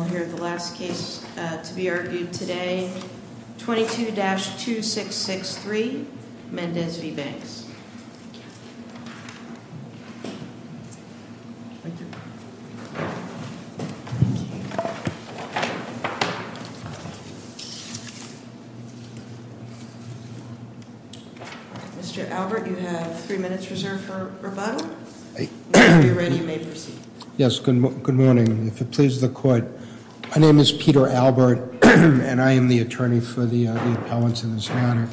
Mr. Albert, you have three minutes reserved for rebuttal, when you're ready you may proceed. Yes, good morning. If it pleases the court, my name is Peter Albert, and I am the attorney for the appellants in this matter.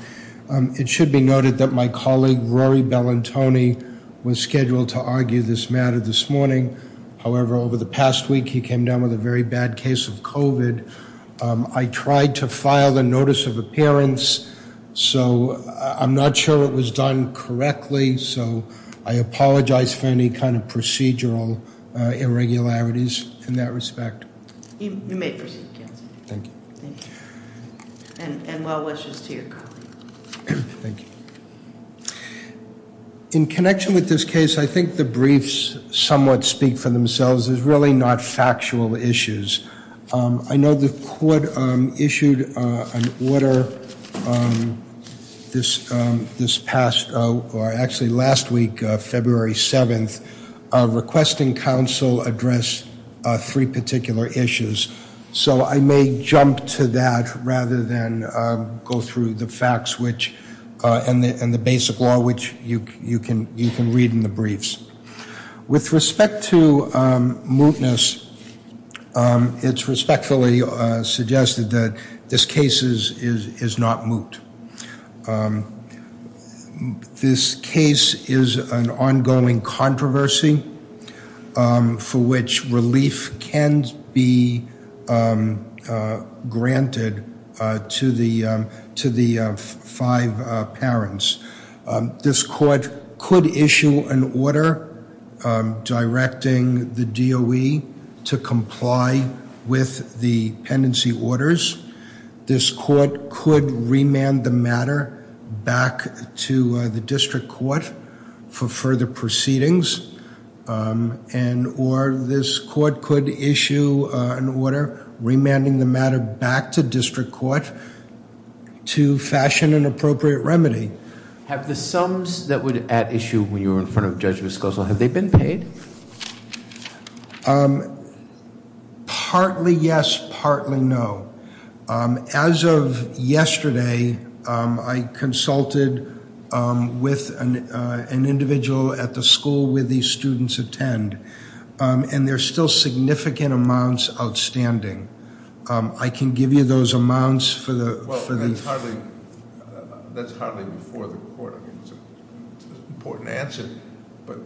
It should be noted that my colleague Rory Bellantoni was scheduled to argue this matter this morning, however over the past week he came down with a very bad case of COVID. I tried to file the notice of appearance, so I'm not sure it was done correctly, so I apologize for any kind of procedural irregularities in that respect. You may proceed, counsel. Thank you. And well wishes to your colleague. Thank you. In connection with this case, I think the briefs somewhat speak for themselves. There's really not factual issues. I know the court issued an order this past, or actually last week, February 7th, requesting counsel address three particular issues. So I may jump to that rather than go through the facts and the basic law, which you can read in the briefs. With respect to mootness, it's respectfully suggested that this case is not moot. This case is an ongoing controversy for which relief can be granted to the five parents. This court could issue an order directing the DOE to comply with the pendency orders. This court could remand the matter back to the district court for further proceedings. Or this court could issue an order remanding the matter back to district court to fashion an appropriate remedy. Have the sums that were at issue when you were in front of Judge Viscoso, have they been paid? Partly yes, partly no. As of yesterday, I consulted with an individual at the school where these students attend. And there's still significant amounts outstanding. I can give you those amounts for the- That's hardly before the court. It's an important answer. But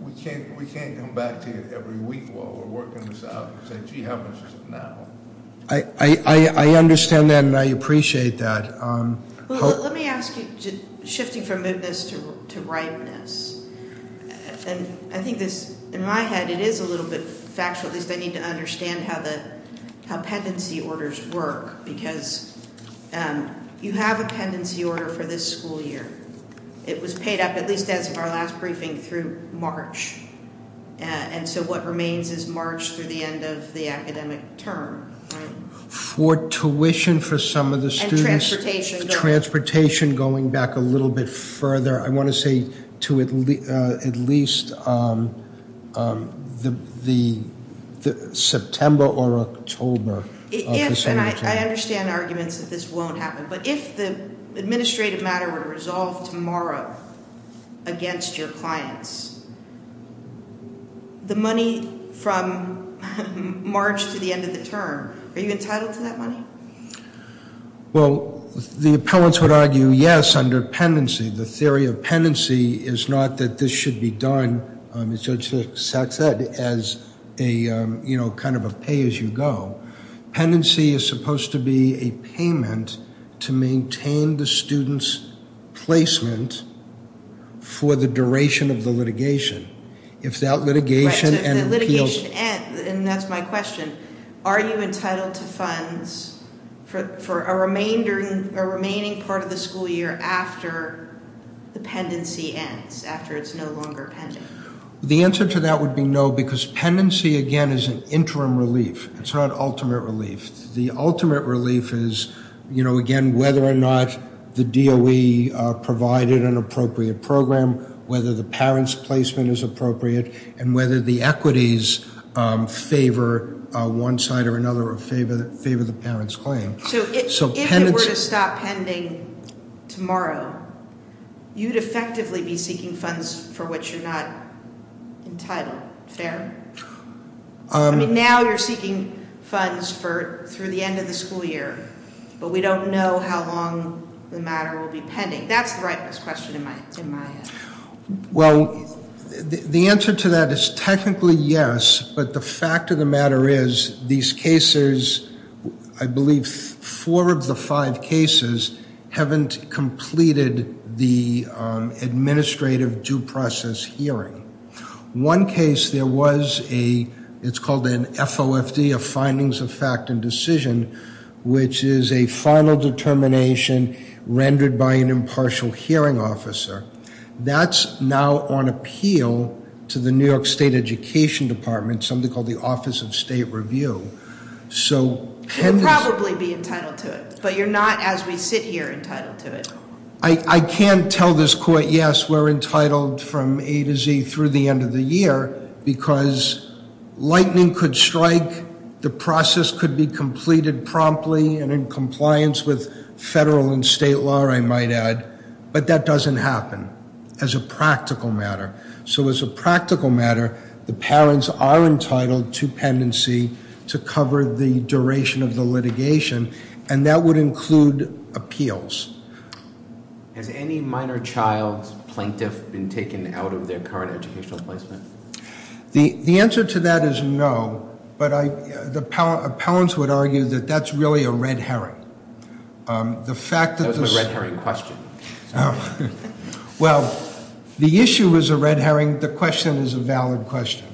we can't come back to you every week while we're working this out and say, gee, how much is it now? I understand that, and I appreciate that. Let me ask you, shifting from mootness to ripeness. And I think this, in my head, it is a little bit factual. At least I need to understand how pendency orders work. Because you have a pendency order for this school year. It was paid up, at least as of our last briefing, through March. And so what remains is March through the end of the academic term, right? For tuition for some of the students- And transportation. Transportation going back a little bit further. I want to say to at least the September or October. And I understand arguments that this won't happen. But if the administrative matter were to resolve tomorrow against your clients, the money from March to the end of the term, are you entitled to that money? Well, the appellants would argue, yes, under pendency. The theory of pendency is not that this should be done, as Judge Satz said, as a kind of a pay as you go. Pendency is supposed to be a payment to maintain the student's placement for the duration of the litigation. If that litigation- And that's my question. Are you entitled to funds for a remaining part of the school year after the pendency ends, after it's no longer pending? The answer to that would be no, because pendency, again, is an interim relief. It's not ultimate relief. The ultimate relief is, again, whether or not the DOE provided an appropriate program, whether the parent's placement is appropriate, and whether the equities favor one side or another or favor the parent's claim. So if it were to stop pending tomorrow, you'd effectively be seeking funds for what you're not entitled. Fair? I mean, now you're seeking funds through the end of the school year, but we don't know how long the matter will be pending. That's the rightmost question in my head. Well, the answer to that is technically yes, but the fact of the matter is these cases, I believe four of the five cases, haven't completed the administrative due process hearing. One case, there was a, it's called an FOFD, a Findings of Fact and Decision, which is a final determination rendered by an impartial hearing officer. That's now on appeal to the New York State Education Department, something called the Office of State Review. You'd probably be entitled to it, but you're not, as we sit here, entitled to it. I can't tell this court, yes, we're entitled from A to Z through the end of the year, because lightning could strike, the process could be completed promptly and in compliance with federal and state law, I might add, but that doesn't happen as a practical matter. So as a practical matter, the parents are entitled to pendency to cover the duration of the litigation, and that would include appeals. Has any minor child's plaintiff been taken out of their current educational placement? The answer to that is no, but the appellants would argue that that's really a red herring. That was my red herring question. Well, the issue is a red herring, the question is a valid question.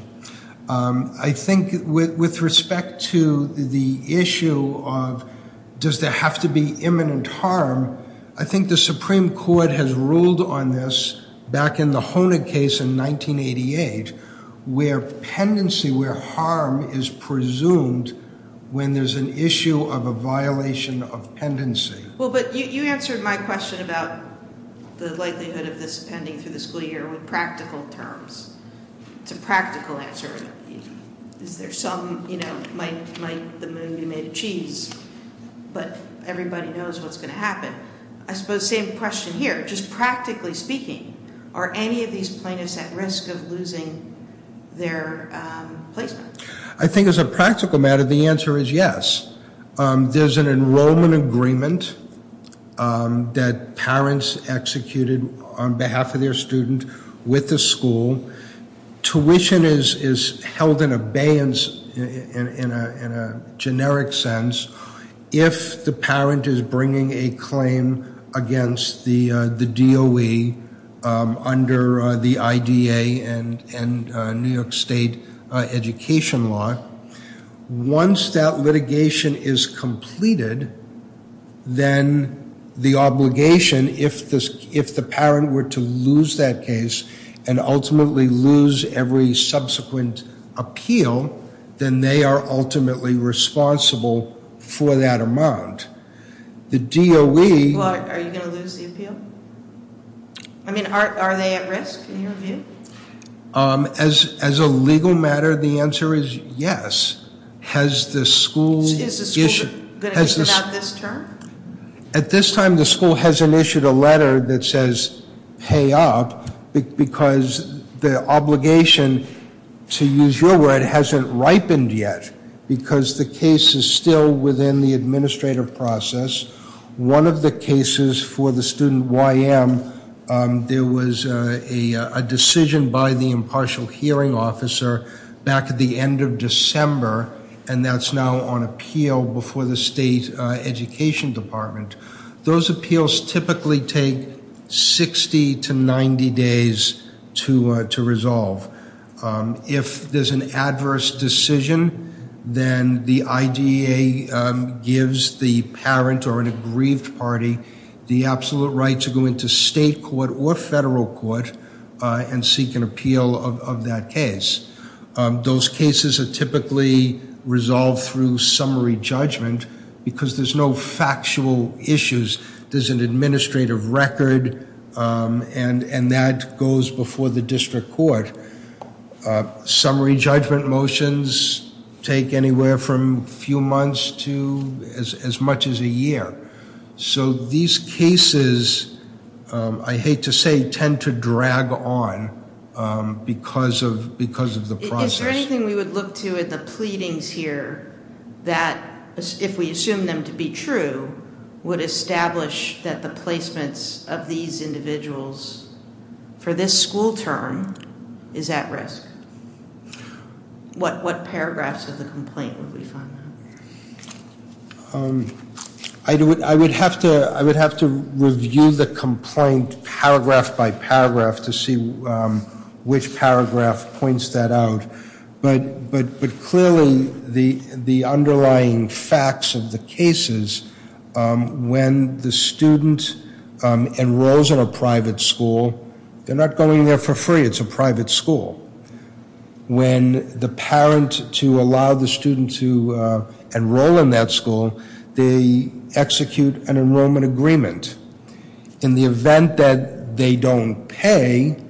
I think with respect to the issue of does there have to be imminent harm, I think the Supreme Court has ruled on this back in the Honig case in 1988, where pendency, where harm is presumed when there's an issue of a violation of pendency. Well, but you answered my question about the likelihood of this pending through the school year with practical terms. It's a practical answer. Is there some, might the moon be made of cheese, but everybody knows what's going to happen. I suppose same question here, just practically speaking, are any of these plaintiffs at risk of losing their placement? I think as a practical matter, the answer is yes. There's an enrollment agreement that parents executed on behalf of their student with the school. Tuition is held in abeyance in a generic sense if the parent is bringing a claim against the DOE under the IDA and New York State education law. Once that litigation is completed, then the obligation, if the parent were to lose that case and ultimately lose every subsequent appeal, then they are ultimately responsible for that amount. The DOE... Well, are you going to lose the appeal? I mean, are they at risk in your view? As a legal matter, the answer is yes. Has the school... Is the school going to take it out this term? At this time, the school hasn't issued a letter that says pay up because the obligation, to use your word, hasn't ripened yet because the case is still within the administrative process. One of the cases for the student YM, there was a decision by the impartial hearing officer back at the end of December, and that's now on appeal before the state education department. Those appeals typically take 60 to 90 days to resolve. If there's an adverse decision, then the IDA gives the parent or an aggrieved party the absolute right to go into state court or federal court and seek an appeal of that case. Those cases are typically resolved through summary judgment because there's no factual issues. There's an administrative record, and that goes before the district court. Summary judgment motions take anywhere from a few months to as much as a year. So these cases, I hate to say, tend to drag on because of the process. Is there anything we would look to in the pleadings here that, if we assume them to be true, would establish that the placements of these individuals for this school term is at risk? What paragraphs of the complaint would we find out? I would have to review the complaint paragraph by paragraph to see which paragraph points that out. But clearly, the underlying facts of the cases, when the student enrolls in a private school, they're not going there for free. It's a private school. When the parent, to allow the student to enroll in that school, they execute an enrollment agreement. In the event that they don't pay,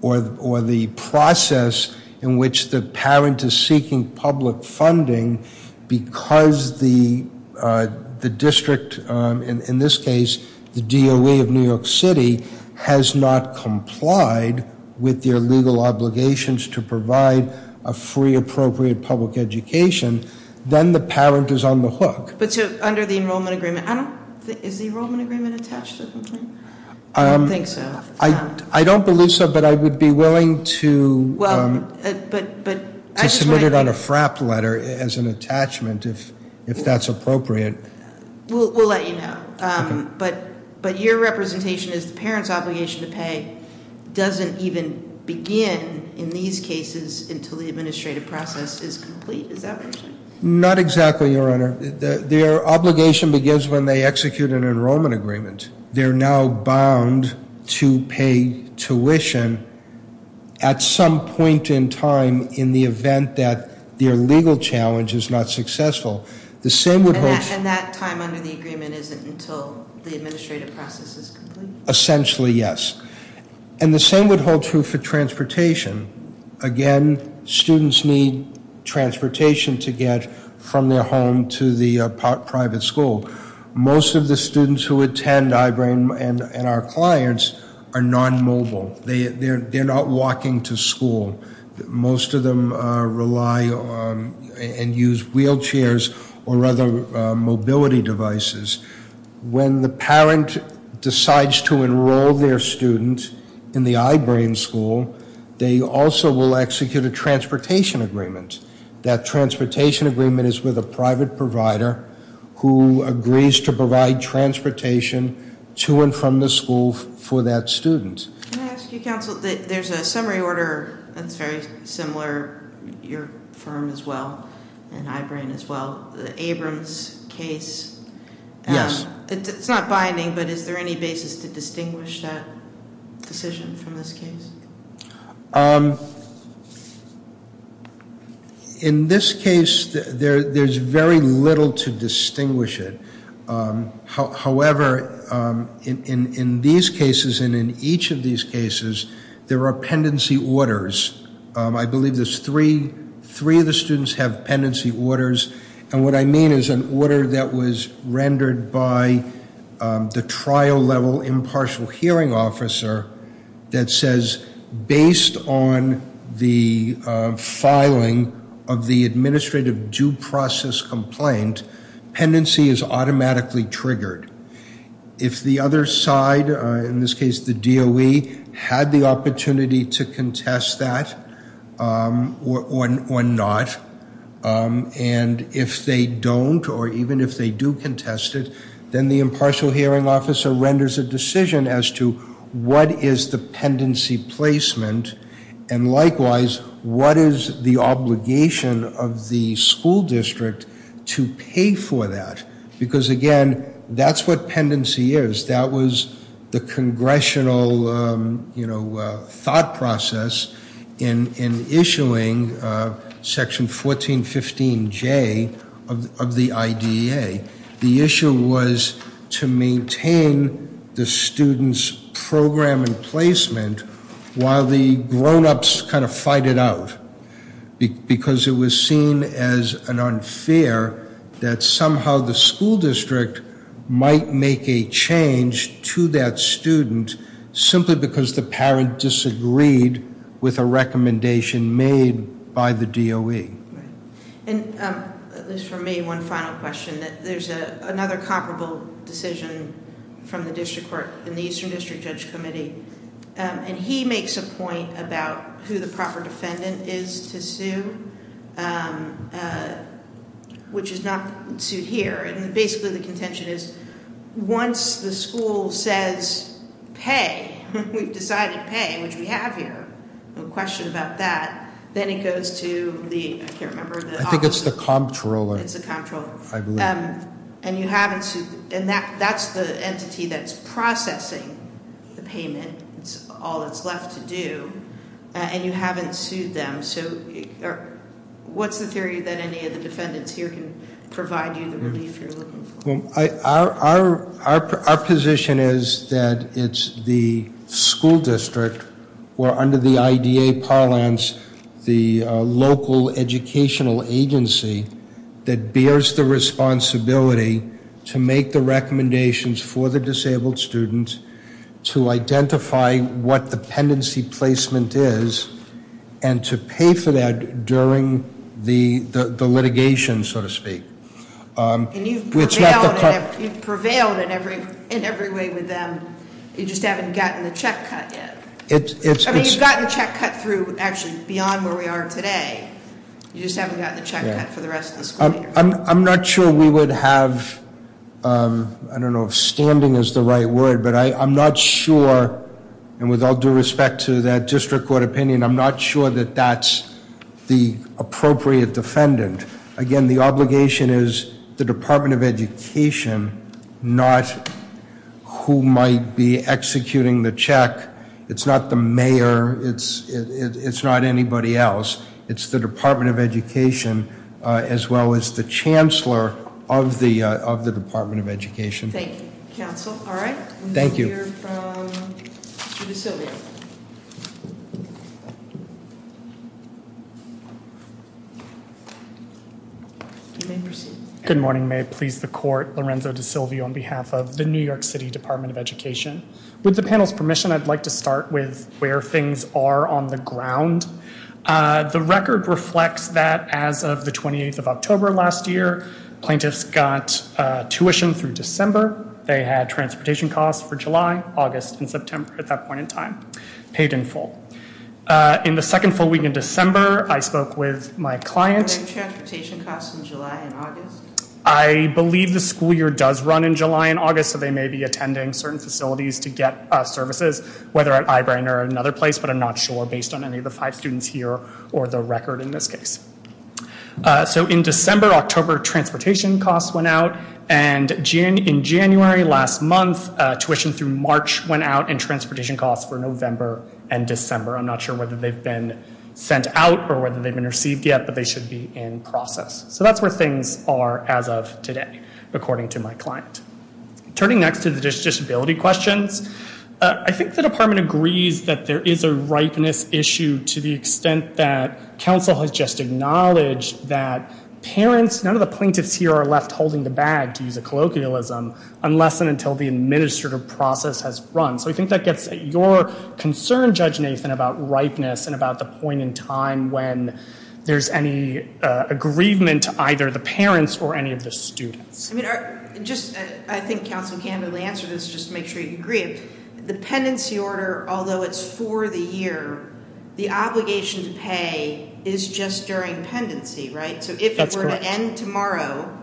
or the process in which the parent is seeking public funding, because the district, in this case, the DOE of New York City, has not complied with their legal obligations to provide a free, appropriate public education, then the parent is on the hook. But so, under the enrollment agreement, I don't think, is the enrollment agreement attached to the complaint? I don't think so. I don't believe so, but I would be willing to- Well, but I just want to- To submit it on a FRAP letter as an attachment, if that's appropriate. We'll let you know. Okay. But your representation is the parent's obligation to pay doesn't even begin in these cases until the administrative process is complete. Is that what you're saying? Not exactly, Your Honor. Their obligation begins when they execute an enrollment agreement. They're now bound to pay tuition at some point in time in the event that their legal challenge is not successful. The same would hold- And that time under the agreement isn't until the administrative process is complete? Essentially, yes. And the same would hold true for transportation. Again, students need transportation to get from their home to the private school. Most of the students who attend iBrain and our clients are non-mobile. They're not walking to school. Most of them rely and use wheelchairs or other mobility devices. When the parent decides to enroll their student in the iBrain school, they also will execute a transportation agreement. That transportation agreement is with a private provider who agrees to provide transportation to and from the school for that student. Can I ask you, Counsel, there's a summary order that's very similar, your firm as well, and iBrain as well. The Abrams case. Yes. It's not binding, but is there any basis to distinguish that decision from this case? In this case, there's very little to distinguish it. However, in these cases and in each of these cases, there are pendency orders. I believe there's three. Three of the students have pendency orders. And what I mean is an order that was rendered by the trial level impartial hearing officer that says, based on the filing of the administrative due process complaint, pendency is automatically triggered. If the other side, in this case the DOE, had the opportunity to contest that or not, and if they don't or even if they do contest it, then the impartial hearing officer renders a decision as to what is the pendency placement. And likewise, what is the obligation of the school district to pay for that? Because, again, that's what pendency is. That was the congressional thought process in issuing Section 1415J of the IDEA. The issue was to maintain the student's program and placement while the grown-ups kind of fight it out. Because it was seen as an unfair that somehow the school district might make a change to that student, simply because the parent disagreed with a recommendation made by the DOE. And, at least for me, one final question. There's another comparable decision from the district court in the Eastern District Judge Committee. And he makes a point about who the proper defendant is to sue, which is not sued here. And basically the contention is, once the school says pay, we've decided to pay, which we have here. No question about that. Then it goes to the, I can't remember- I think it's the comptroller. It's the comptroller. I believe. And you haven't sued. And that's the entity that's processing the payment. It's all that's left to do. And you haven't sued them. So what's the theory that any of the defendants here can provide you the relief you're looking for? Our position is that it's the school district, or under the IDA parlance, the local educational agency, that bears the responsibility to make the recommendations for the disabled student, to identify what the pendency placement is, and to pay for that during the litigation, so to speak. And you've prevailed in every way with them. You just haven't gotten the check cut yet. I mean, you've gotten the check cut through, actually, beyond where we are today. You just haven't gotten the check cut for the rest of the school year. I'm not sure we would have, I don't know if standing is the right word, but I'm not sure, and with all due respect to that district court opinion, I'm not sure that that's the appropriate defendant. Again, the obligation is the Department of Education, not who might be executing the check. It's not the mayor. It's not anybody else. It's the Department of Education, as well as the chancellor of the Department of Education. Thank you, counsel. All right. Thank you. We'll hear from Mr. DeSilvio. You may proceed. Good morning. May it please the court, Lorenzo DeSilvio on behalf of the New York City Department of Education. With the panel's permission, I'd like to start with where things are on the ground. The record reflects that as of the 28th of October last year, plaintiffs got tuition through December. They had transportation costs for July, August, and September at that point in time paid in full. In the second full week in December, I spoke with my client. Were there transportation costs in July and August? I believe the school year does run in July and August, so they may be attending certain facilities to get services, whether at Eyebring or another place, but I'm not sure based on any of the five students here or the record in this case. So in December, October, transportation costs went out, and in January last month, tuition through March went out and transportation costs were November and December. I'm not sure whether they've been sent out or whether they've been received yet, but they should be in process. So that's where things are as of today, according to my client. Turning next to the disability questions, I think the department agrees that there is a ripeness issue to the extent that counsel has just acknowledged that parents, none of the plaintiffs here are left holding the bag to use a colloquialism unless and until the administrative process has run. So I think that gets at your concern, Judge Nathan, about ripeness and about the point in time when there's any aggrievement to either the parents or any of the students. I think counsel candidly answered this just to make sure you agree. The pendency order, although it's for the year, the obligation to pay is just during pendency, right? That's correct. So if it were to end tomorrow,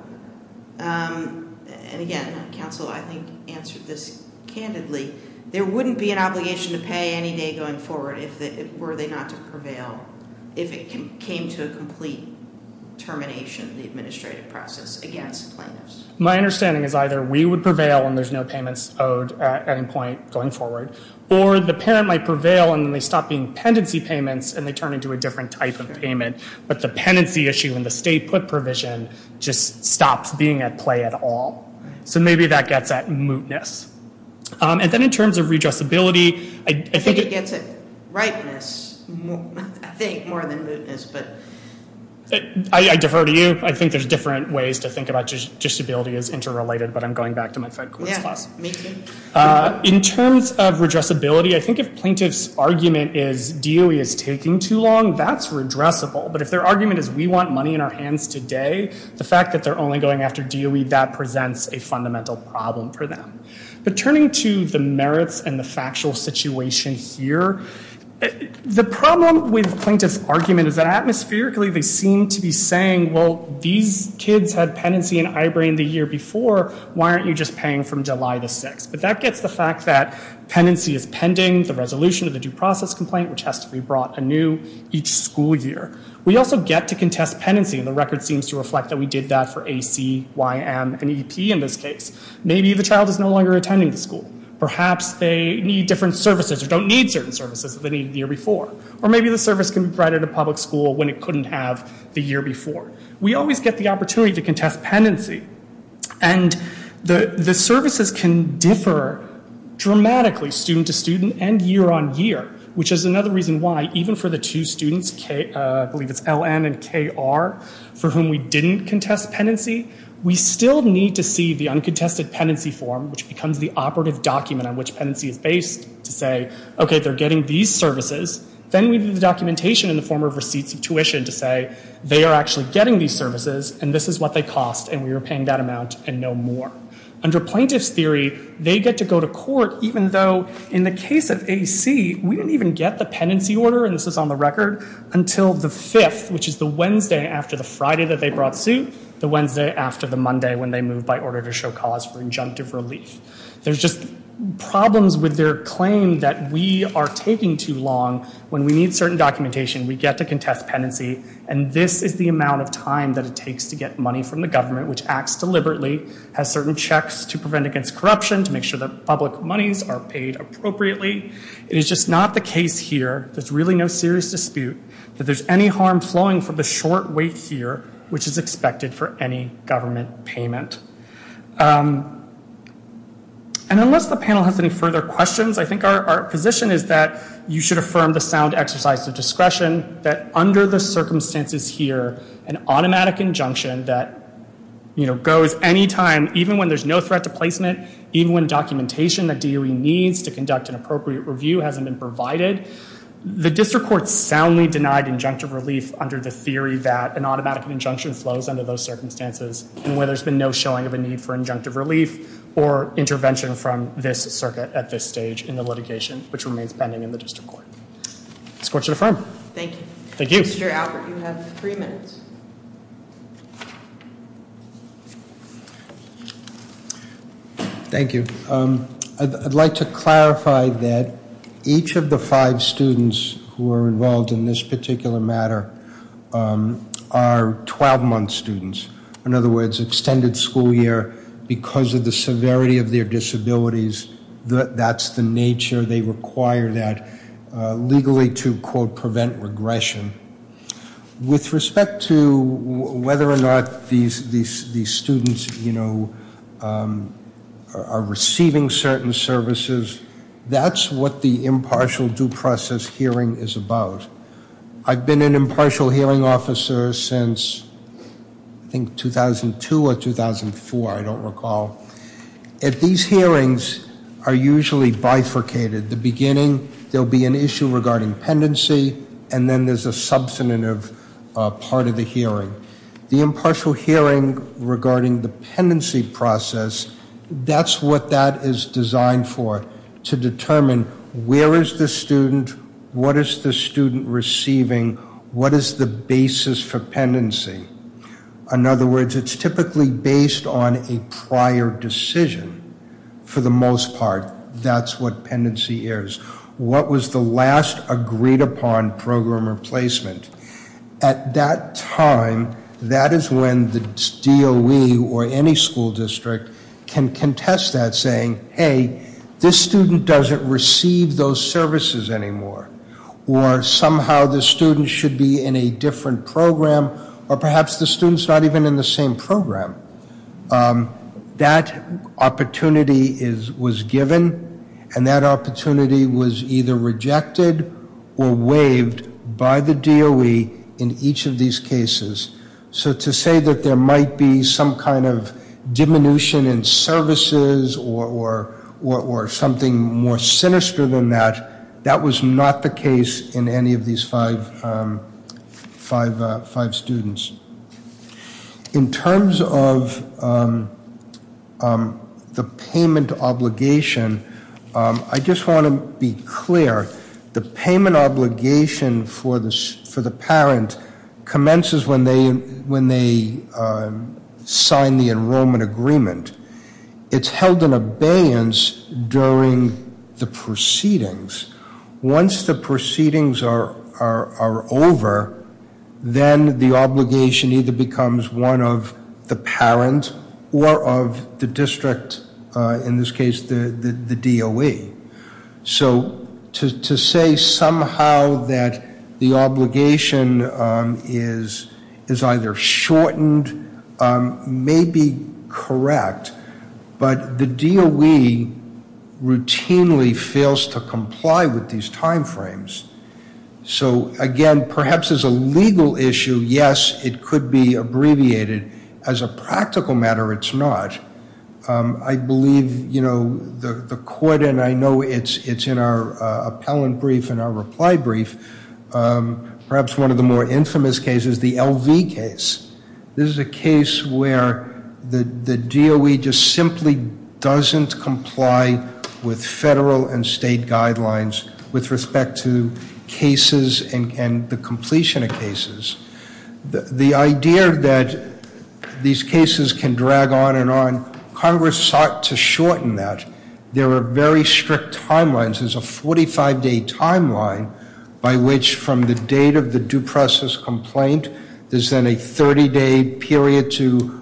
and again, counsel I think answered this candidly, there wouldn't be an obligation to pay any day going forward were they not to prevail if it came to a complete termination of the administrative process against plaintiffs. My understanding is either we would prevail and there's no payments owed at any point going forward, or the parent might prevail and then they stop being pendency payments and they turn into a different type of payment, but the pendency issue and the state put provision just stops being at play at all. So maybe that gets at mootness. And then in terms of redressability, I think it gets at ripeness. I think more than mootness, but. I defer to you. I think there's different ways to think about disability as interrelated, but I'm going back to my Fed course class. Yeah, me too. In terms of redressability, I think if plaintiff's argument is DOE is taking too long, that's redressable. But if their argument is we want money in our hands today, the fact that they're only going after DOE, that presents a fundamental problem for them. But turning to the merits and the factual situation here, the problem with plaintiff's argument is that atmospherically they seem to be saying, well, these kids had penancy in Ibram the year before. Why aren't you just paying from July the 6th? But that gets the fact that penancy is pending the resolution of the due process complaint, which has to be brought anew each school year. We also get to contest penancy. And the record seems to reflect that we did that for AC, YM, and EP in this case. Maybe the child is no longer attending the school. Perhaps they need different services or don't need certain services that they needed the year before. Or maybe the service can be provided at a public school when it couldn't have the year before. We always get the opportunity to contest penancy. And the services can differ dramatically student to student and year on year, which is another reason why even for the two students, I believe it's LN and KR, for whom we didn't contest penancy, we still need to see the uncontested penancy form, which becomes the operative document on which penancy is based to say, OK, they're getting these services. Then we do the documentation in the form of receipts of tuition to say they are actually getting these services and this is what they cost and we are paying that amount and no more. Under plaintiff's theory, they get to go to court even though in the case of AC, we didn't even get the penancy order, and this is on the record, until the 5th, which is the Wednesday after the Friday that they brought suit, the Wednesday after the Monday when they moved by order to show cause for injunctive relief. There's just problems with their claim that we are taking too long. When we need certain documentation, we get to contest penancy and this is the amount of time that it takes to get money from the government, which acts deliberately, has certain checks to prevent against corruption, to make sure that public monies are paid appropriately. It is just not the case here, there's really no serious dispute, that there's any harm flowing from the short wait here, which is expected for any government payment. And unless the panel has any further questions, I think our position is that you should affirm the sound exercise of discretion that under the circumstances here, an automatic injunction that goes any time, even when there's no threat to placement, even when documentation that DOE needs to conduct an appropriate review hasn't been provided, the district court soundly denied injunctive relief under the theory that an automatic injunction flows under those circumstances and where there's been no showing of a need for injunctive relief or intervention from this circuit at this stage in the litigation, which remains pending in the district court. This court should affirm. Thank you. Thank you. Mr. Albert, you have three minutes. Thank you. I'd like to clarify that each of the five students who are involved in this particular matter are 12-month students. In other words, extended school year because of the severity of their disabilities, that's the nature. They require that legally to, quote, prevent regression. With respect to whether or not these students, you know, are receiving certain services, that's what the impartial due process hearing is about. I've been an impartial hearing officer since, I think, 2002 or 2004, I don't recall. These hearings are usually bifurcated. At the beginning, there'll be an issue regarding pendency, and then there's a substantive part of the hearing. The impartial hearing regarding the pendency process, that's what that is designed for, to determine where is the student, what is the student receiving, what is the basis for pendency. In other words, it's typically based on a prior decision. For the most part, that's what pendency is. What was the last agreed upon program replacement? At that time, that is when the DOE or any school district can contest that saying, hey, this student doesn't receive those services anymore. Or somehow the student should be in a different program, or perhaps the student's not even in the same program. That opportunity was given, and that opportunity was either rejected or waived by the DOE in each of these cases. So to say that there might be some kind of diminution in services or something more sinister than that, that was not the case in any of these five students. In terms of the payment obligation, I just want to be clear. The payment obligation for the parent commences when they sign the enrollment agreement. It's held in abeyance during the proceedings. Once the proceedings are over, then the obligation either becomes one of the parent or of the district. In this case, the DOE. So to say somehow that the obligation is either shortened may be correct, but the DOE routinely fails to comply with these time frames. So again, perhaps as a legal issue, yes, it could be abbreviated. As a practical matter, it's not. I believe the court, and I know it's in our appellant brief and our reply brief, perhaps one of the more infamous cases, the LV case. This is a case where the DOE just simply doesn't comply with federal and state guidelines with respect to cases and the completion of cases. The idea that these cases can drag on and on, Congress sought to shorten that. There are very strict timelines. There's a 45-day timeline by which from the date of the due process complaint, there's then a 30-day period to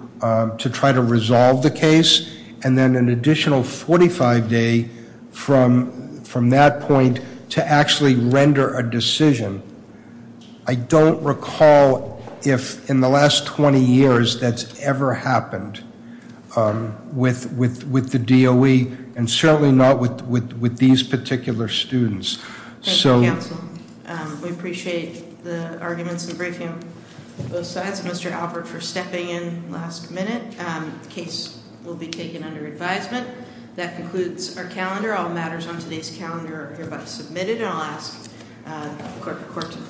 try to resolve the case, and then an additional 45 day from that point to actually render a decision. I don't recall if in the last 20 years that's ever happened with the DOE and certainly not with these particular students. Thank you, counsel. We appreciate the arguments in the briefing on both sides. Mr. Albert, for stepping in last minute, the case will be taken under advisement. That concludes our calendar. All matters on today's calendar are hereby submitted, and I'll ask the court to please adjourn.